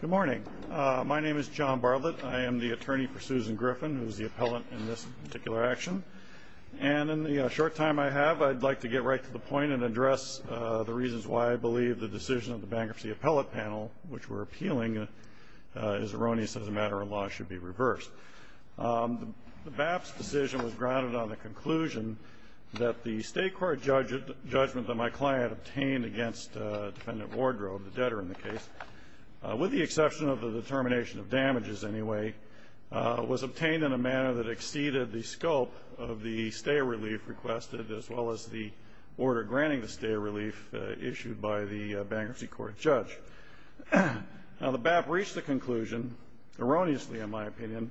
Good morning. My name is John Bartlett. I am the attorney for Susan Griffin, who is the appellant in this particular action. And in the short time I have, I'd like to get right to the point and address the reasons why I believe the decision of the Bankruptcy Appellate Panel, which we're appealing, is erroneous as a matter of law and should be reversed. The BAP's decision was grounded on the conclusion that the State court judgment that my client obtained against Defendant Wardrobe, the debtor in the case, with the exception of the determination of damages anyway, was obtained in a manner that exceeded the scope of the stay relief requested, as well as the order granting the stay relief issued by the Bankruptcy Court judge. Now, the BAP reached the conclusion, erroneously in my opinion,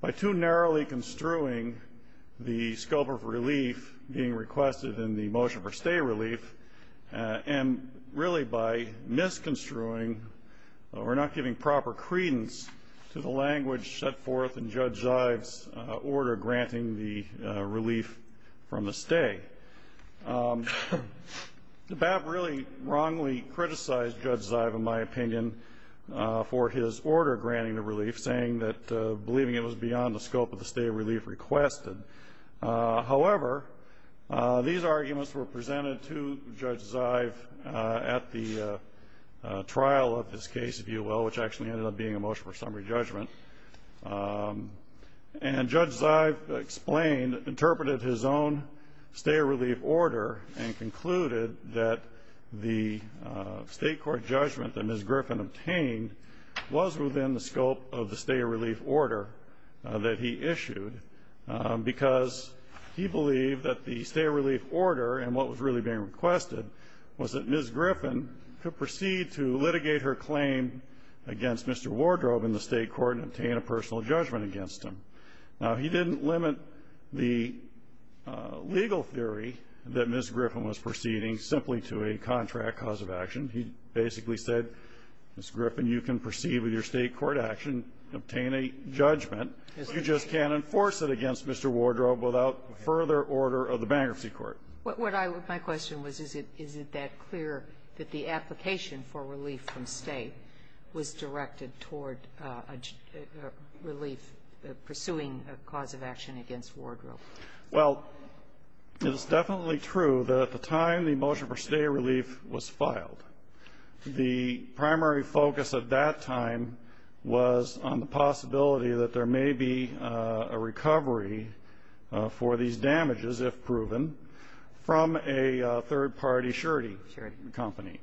by too narrowly construing the scope of relief being requested in the motion for stay relief, and really by misconstruing or not giving proper credence to the language set forth in Judge Zive's order granting the relief from the stay. The BAP really wrongly criticized Judge Zive, in my opinion, for his order granting the relief, saying that believing it was beyond the scope of the stay relief requested. However, these arguments were presented to Judge Zive at the trial of his case, if you will, which actually ended up being a motion for summary judgment. And Judge Zive explained, interpreted his own stay relief order, and concluded that the State court judgment that Ms. Griffin obtained was within the scope of the stay relief order that he issued, because he believed that the stay relief order, and what was really being requested, was that Ms. Griffin could proceed to litigate her claim against Mr. Wardrobe in the State court and obtain a personal judgment against him. Now, he didn't limit the legal theory that Ms. Griffin was proceeding simply to a contract cause of action. He basically said, Ms. Griffin, you can proceed with your State court action, obtain a judgment. You just can't enforce it against Mr. Wardrobe without further order of the Bankruptcy Court. My question was, is it that clear that the application for relief from stay was directed toward a relief, pursuing a cause of action against Wardrobe? Well, it is definitely true that at the time the motion for stay relief was filed, the primary focus at that time was on the possibility that there may be a recovery for these damages, if proven, from a third-party surety company.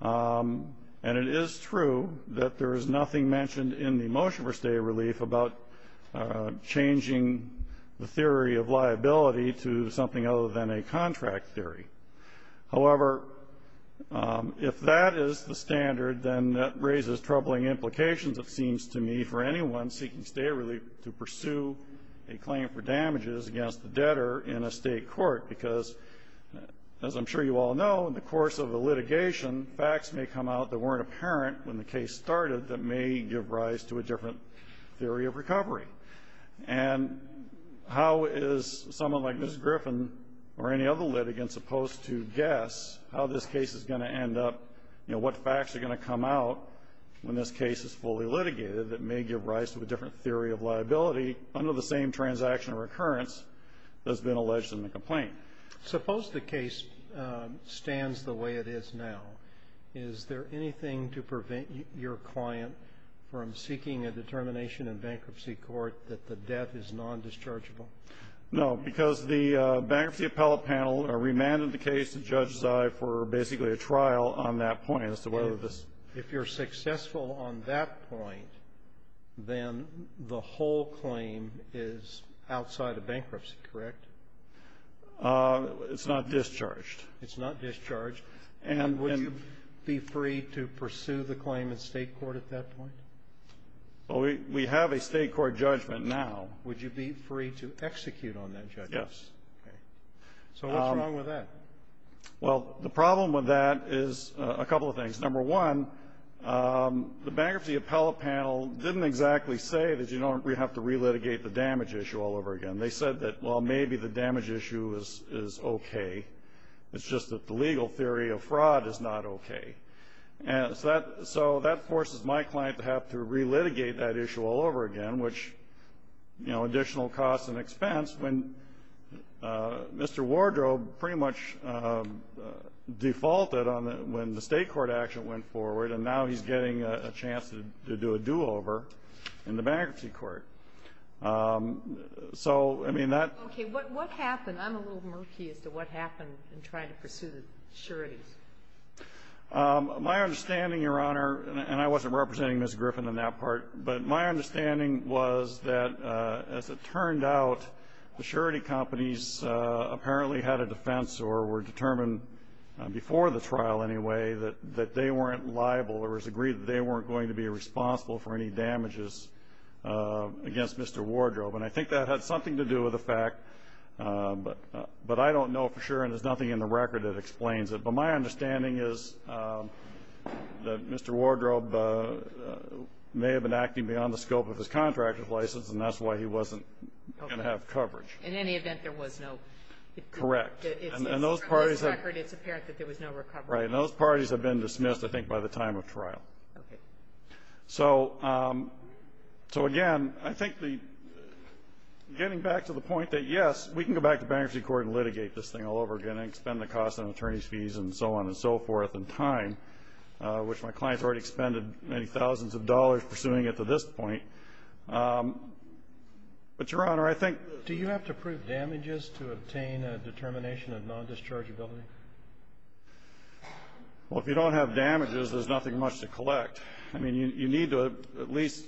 And it is true that there is nothing mentioned in the motion for stay relief about changing the theory of liability to something other than a contract theory. However, if that is the standard, then that raises troubling implications, it seems to me, for anyone seeking stay relief to pursue a claim for damages against the debtor in a State court, because, as I'm sure you all know, in the course of the litigation, facts may come out that weren't apparent when the case started that may give rise to a different theory of recovery. And how is someone like Ms. Griffin or any other litigant supposed to guess how this case is going to end up, you know, what facts are going to come out when this case is fully litigated that may give rise to a different theory of liability under the same transaction recurrence that's been alleged in the complaint? Suppose the case stands the way it is now. Is there anything to prevent your client from seeking a determination in bankruptcy court that the debt is nondischargeable? No, because the bankruptcy appellate panel remanded the case to Judge Zai for basically a trial on that point as to whether this If you're successful on that point, then the whole claim is outside of bankruptcy, correct? It's not discharged. And would you be free to pursue the claim in State court at that point? Well, we have a State court judgment now. Would you be free to execute on that judgment? Yes. Okay. So what's wrong with that? Well, the problem with that is a couple of things. Number one, the bankruptcy appellate panel didn't exactly say that, you know, we have to relitigate the damage issue all over again. They said that, well, maybe the damage issue is okay. It's just that the legal theory of fraud is not okay. So that forces my client to have to relitigate that issue all over again, which, you know, additional costs and expense when Mr. Wardrobe pretty much defaulted on it when the State court action went forward, and now he's getting a chance to do a do-over in the bankruptcy court. So, I mean, that Okay. What happened? I'm a little murky as to what happened in trying to pursue the sureties. My understanding, Your Honor, and I wasn't representing Ms. Griffin in that part, but my understanding was that, as it turned out, the surety companies apparently had a defense or were determined before the trial anyway that they weren't liable or was agreed that they weren't going to be responsible for any damages against Mr. Wardrobe. And I think that had something to do with the fact, but I don't know for sure, and there's nothing in the record that explains it. But my understanding is that Mr. Wardrobe may have been acting beyond the scope of his contract with license, and that's why he wasn't going to have coverage. Okay. In any event, there was no ---- Correct. It's apparent that there was no recovery. Right. And those parties have been dismissed, I think, by the time of trial. Okay. So, again, I think the ---- getting back to the point that, yes, we can go back to bankruptcy court and litigate this thing all over again and expend the cost on attorney's fees and so on and so forth in time, which my clients already expended many thousands of dollars pursuing it to this point. But, Your Honor, I think ---- Do you have to prove damages to obtain a determination of non-dischargeability? Well, if you don't have damages, there's nothing much to collect. I mean, you need to at least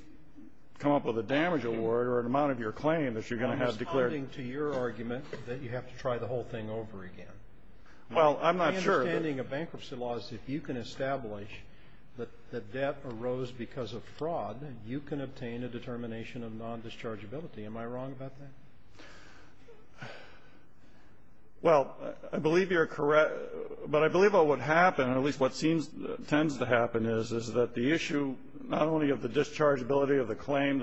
come up with a damage award or an amount of your claim that you're going to have declared. I'm responding to your argument that you have to try the whole thing over again. Well, I'm not sure that ---- My understanding of bankruptcy law is if you can establish that the debt arose because of fraud, you can obtain a determination of non-dischargeability. Am I wrong about that? Well, I believe you're correct. But I believe what would happen, or at least what tends to happen is, is that the issue not only of the dischargeability of the claim,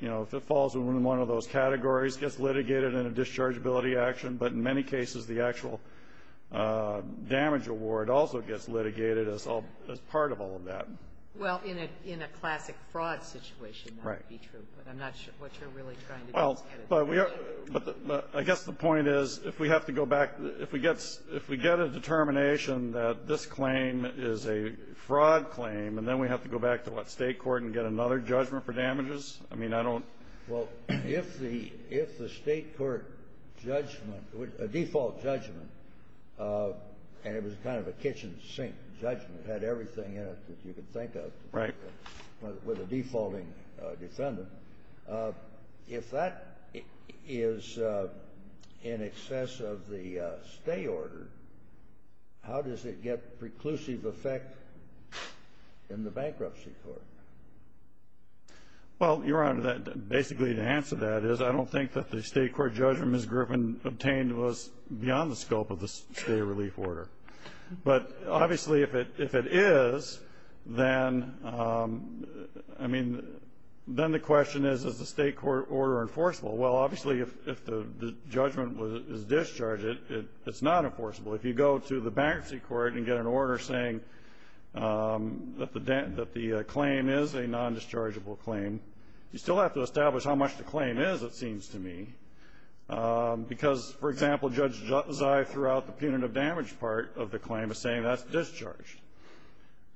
you know, if it falls into one of those categories, gets litigated in a dischargeability action. But in many cases, the actual damage award also gets litigated as part of all of that. Well, in a classic fraud situation, that would be true. Right. But I'm not sure what you're really trying to get at. But I guess the point is, if we have to go back, if we get a determination that this claim is a fraud claim, and then we have to go back to what, State court and get another judgment for damages? I mean, I don't ---- Well, if the State court judgment, a default judgment, and it was kind of a kitchen sink judgment, had everything in it that you could think of. Right. With a defaulting defendant. If that is in excess of the stay order, how does it get preclusive effect in the bankruptcy court? Well, Your Honor, basically the answer to that is I don't think that the State court judgment Ms. Griffin obtained was beyond the scope of the stay relief order. But obviously, if it is, then, I mean, then the question is, is the State court order enforceable? Well, obviously, if the judgment is discharged, it's not enforceable. If you go to the bankruptcy court and get an order saying that the claim is a nondischargeable claim, you still have to establish how much the claim is, it seems to me. Because, for example, Judge Zai throughout the punitive damage part of the claim is saying that's discharged.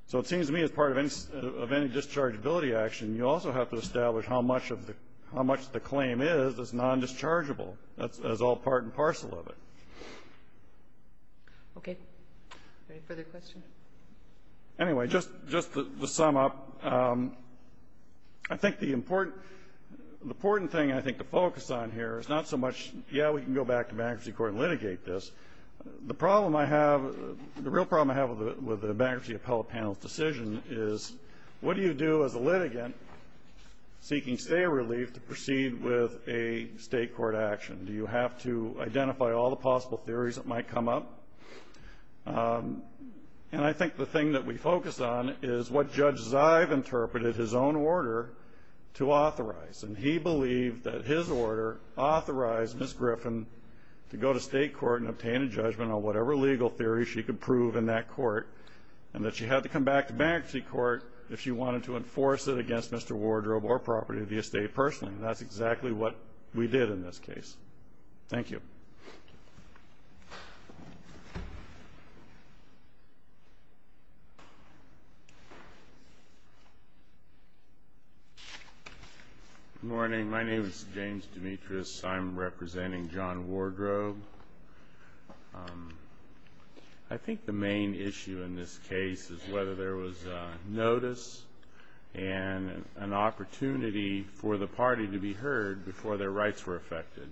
So it seems to me as part of any dischargeability action, you also have to establish how much of the ---- how much the claim is as nondischargeable, as all part and parcel of it. Okay. Any further questions? Anyway, just to sum up, I think the important ---- the important thing, I think, to focus on here is not so much, yeah, we can go back to bankruptcy court and litigate this. The problem I have ---- the real problem I have with the bankruptcy appellate panel's decision is what do you do as a litigant seeking stay relief to proceed with a State court action? Do you have to identify all the possible theories that might come up? And I think the thing that we focus on is what Judge Zai have interpreted his own order to authorize. And he believed that his order authorized Ms. Griffin to go to State court and obtain a judgment on whatever legal theory she could prove in that court and that she had to come back to bankruptcy court if she wanted to enforce it against Mr. Wardrobe or property of the estate personally. And that's exactly what we did in this case. Thank you. Good morning. My name is James Demetrius. I'm representing John Wardrobe. I think the main issue in this case is whether there was notice and an opportunity for the party to be heard before their rights were affected.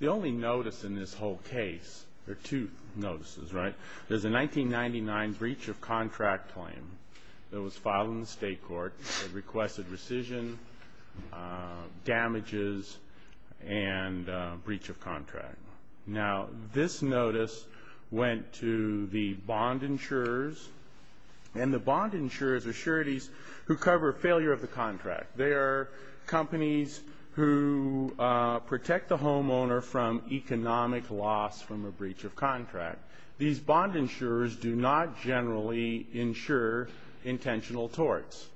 The only notice in this whole case or two notices, right, is the 1999 breach of contract claim that was filed in the State court that requested rescission, damages, and breach of contract. Now, this notice went to the bond insurers, and the bond insurers are sureties who cover failure of the contract. They are companies who protect the homeowner from economic loss from a breach of contract. These bond insurers do not generally insure intentional torts.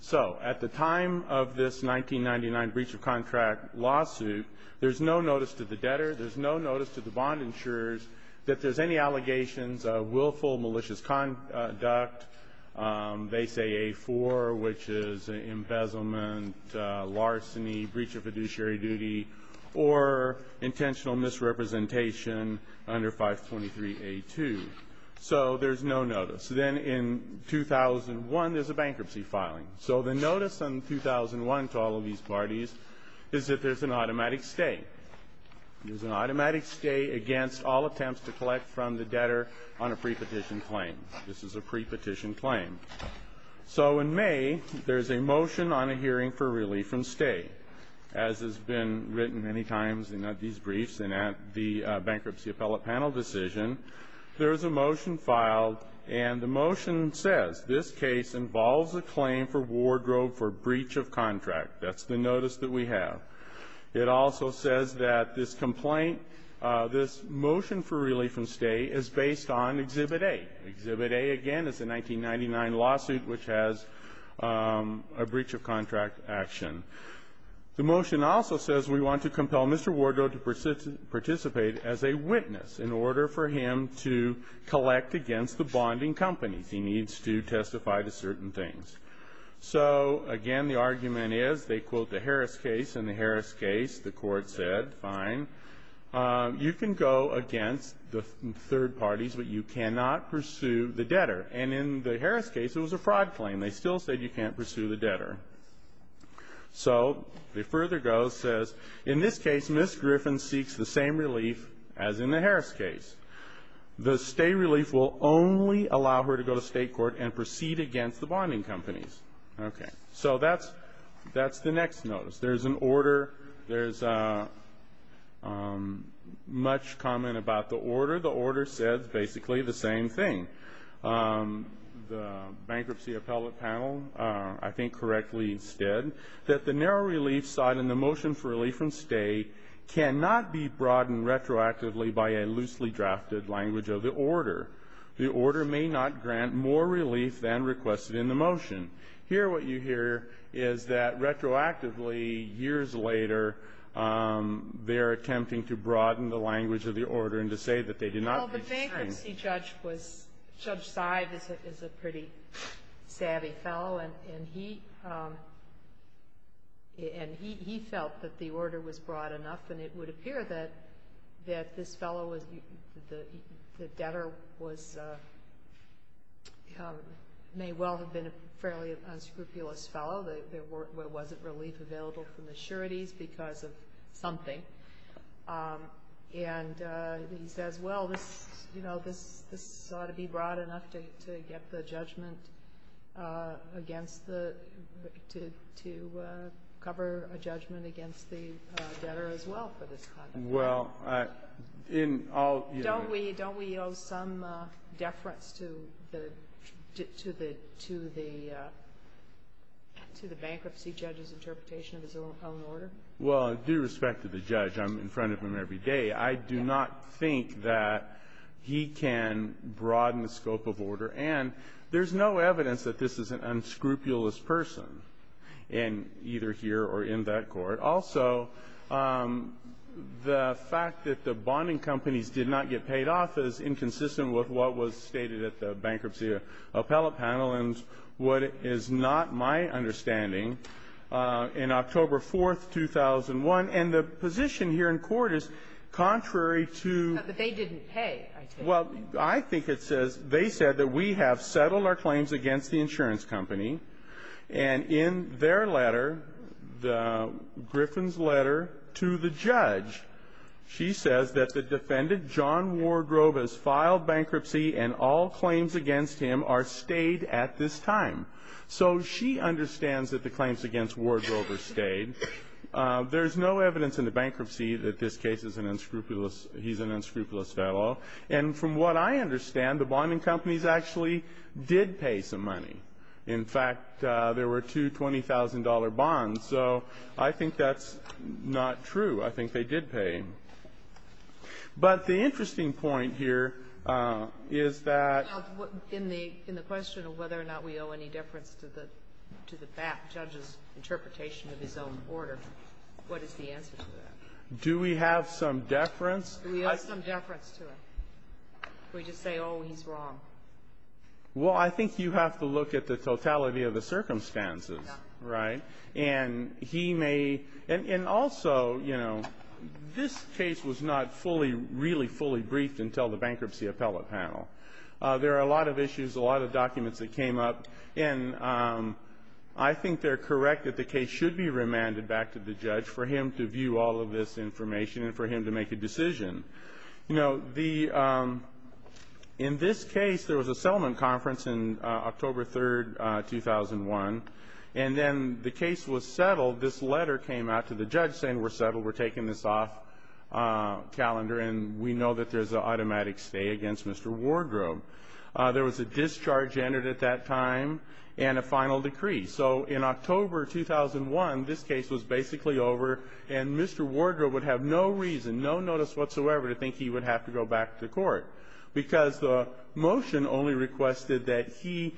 So at the time of this 1999 breach of contract lawsuit, there's no notice to the debtor. There's no notice to the bond insurers that there's any allegations of willful malicious conduct. They say A4, which is embezzlement, larceny, breach of fiduciary duty, or intentional misrepresentation under 523A2. So there's no notice. Then in 2001, there's a bankruptcy filing. So the notice in 2001 to all of these parties is that there's an automatic stay. There's an automatic stay against all attempts to collect from the debtor on a prepetition claim. This is a prepetition claim. So in May, there's a motion on a hearing for relief from stay. As has been written many times in these briefs and at the bankruptcy appellate panel decision, there's a motion filed, and the motion says this case involves a claim for wardrobe for breach of contract. That's the notice that we have. It also says that this complaint, this motion for relief from stay, is based on Exhibit A. Exhibit A, again, is a 1999 lawsuit which has a breach of contract action. The motion also says we want to compel Mr. Wardrobe to participate as a witness in order for him to collect against the bonding companies. He needs to testify to certain things. So, again, the argument is they quote the Harris case, and the Harris case, the court said, fine. You can go against the third parties, but you cannot pursue the debtor. And in the Harris case, it was a fraud claim. They still said you can't pursue the debtor. So they further go, says, in this case, Ms. Griffin seeks the same relief as in the Harris case. The stay relief will only allow her to go to state court and proceed against the bonding companies. Okay. So that's the next notice. There's an order. There's much comment about the order. The order says basically the same thing. The bankruptcy appellate panel, I think, correctly said that the narrow relief side from state cannot be broadened retroactively by a loosely drafted language of the order. The order may not grant more relief than requested in the motion. Here what you hear is that retroactively, years later, they're attempting to broaden the language of the order and to say that they did not get the same. Well, the bankruptcy judge was, Judge Seib is a pretty savvy fellow, and he felt that the order was broad enough. And it would appear that this fellow, the debtor, may well have been a fairly unscrupulous fellow. There wasn't relief available from the sureties because of something. And he says, well, you know, this ought to be broad enough to get the judgment against the to cover a judgment against the debtor as well for this kind of thing. Don't we owe some deference to the bankruptcy judge's interpretation of his own order? Well, due respect to the judge, I'm in front of him every day. I do not think that he can broaden the scope of order. And there's no evidence that this is an unscrupulous person in either here or in that court. Also, the fact that the bonding companies did not get paid off is inconsistent with what was stated at the bankruptcy appellate panel. And what is not my understanding, in October 4th, 2001, and the position here in court is contrary to the. They didn't pay. Well, I think it says they said that we have settled our claims against the insurance company, and in their letter, Griffin's letter to the judge, she says that the defendant, John Wardrobe, has filed bankruptcy and all claims against him are stayed at this time. So she understands that the claims against Wardrobe are stayed. There's no evidence in the bankruptcy that this case is an unscrupulous, he's an unscrupulous fellow. And from what I understand, the bonding companies actually did pay some money. In fact, there were two $20,000 bonds. So I think that's not true. I think they did pay. But the interesting point here is that. In the question of whether or not we owe any deference to the judge's interpretation of his own order, what is the answer to that? Do we have some deference? We owe some deference to him. We just say, oh, he's wrong. Well, I think you have to look at the totality of the circumstances, right? And he may. And also, you know, this case was not fully, really fully briefed until the bankruptcy appellate panel. There are a lot of issues, a lot of documents that came up. And I think they're correct that the case should be remanded back to the judge for him to view all of this information and for him to make a decision. You know, in this case, there was a settlement conference on October 3, 2001. And then the case was settled. This letter came out to the judge saying we're settled, we're taking this off calendar, and we know that there's an automatic stay against Mr. Wardrobe. There was a discharge entered at that time and a final decree. So in October 2001, this case was basically over, and Mr. Wardrobe would have no reason, no notice whatsoever to think he would have to go back to court, because the motion only requested that he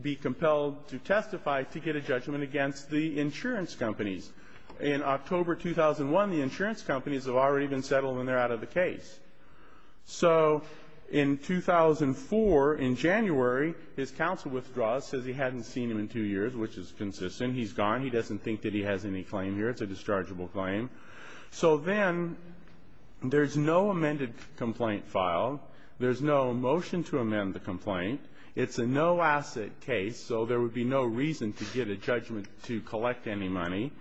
be compelled to testify to get a judgment against the insurance companies. In October 2001, the insurance companies have already been settled and they're out of the case. So in 2004, in January, his counsel withdraws, says he hadn't seen him in two years, which is consistent. He's gone. He doesn't think that he has any claim here. It's a dischargeable claim. So then there's no amended complaint file. There's no motion to amend the complaint. It's a no-asset case, so there would be no reason to get a judgment to collect any money.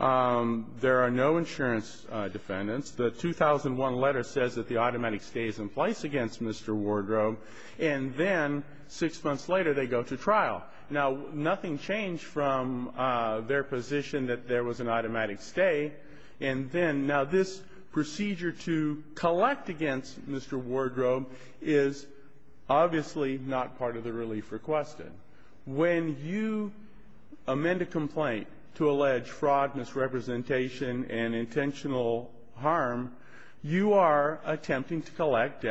There are no insurance defendants. The 2001 letter says that the automatic stay is in place against Mr. Wardrobe. And then six months later, they go to trial. Now, nothing changed from their position that there was an automatic stay. And then now this procedure to collect against Mr. Wardrobe is obviously not part of the relief requested. When you amend a complaint to allege fraud, misrepresentation, and intentional harm, you are attempting to collect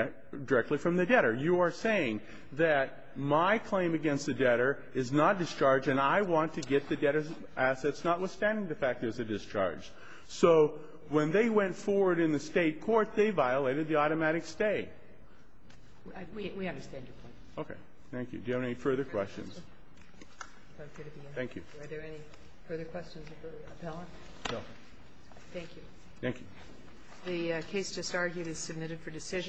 directly from the debtor. You are saying that my claim against the debtor is not discharged and I want to get the debtor's assets, notwithstanding the fact there's a discharge. So when they went forward in the State court, they violated the automatic stay. We understand your point. Okay. Thank you. Do you have any further questions? Thank you. Are there any further questions of the appellant? No. Thank you. Thank you. The case just argued is submitted for decision.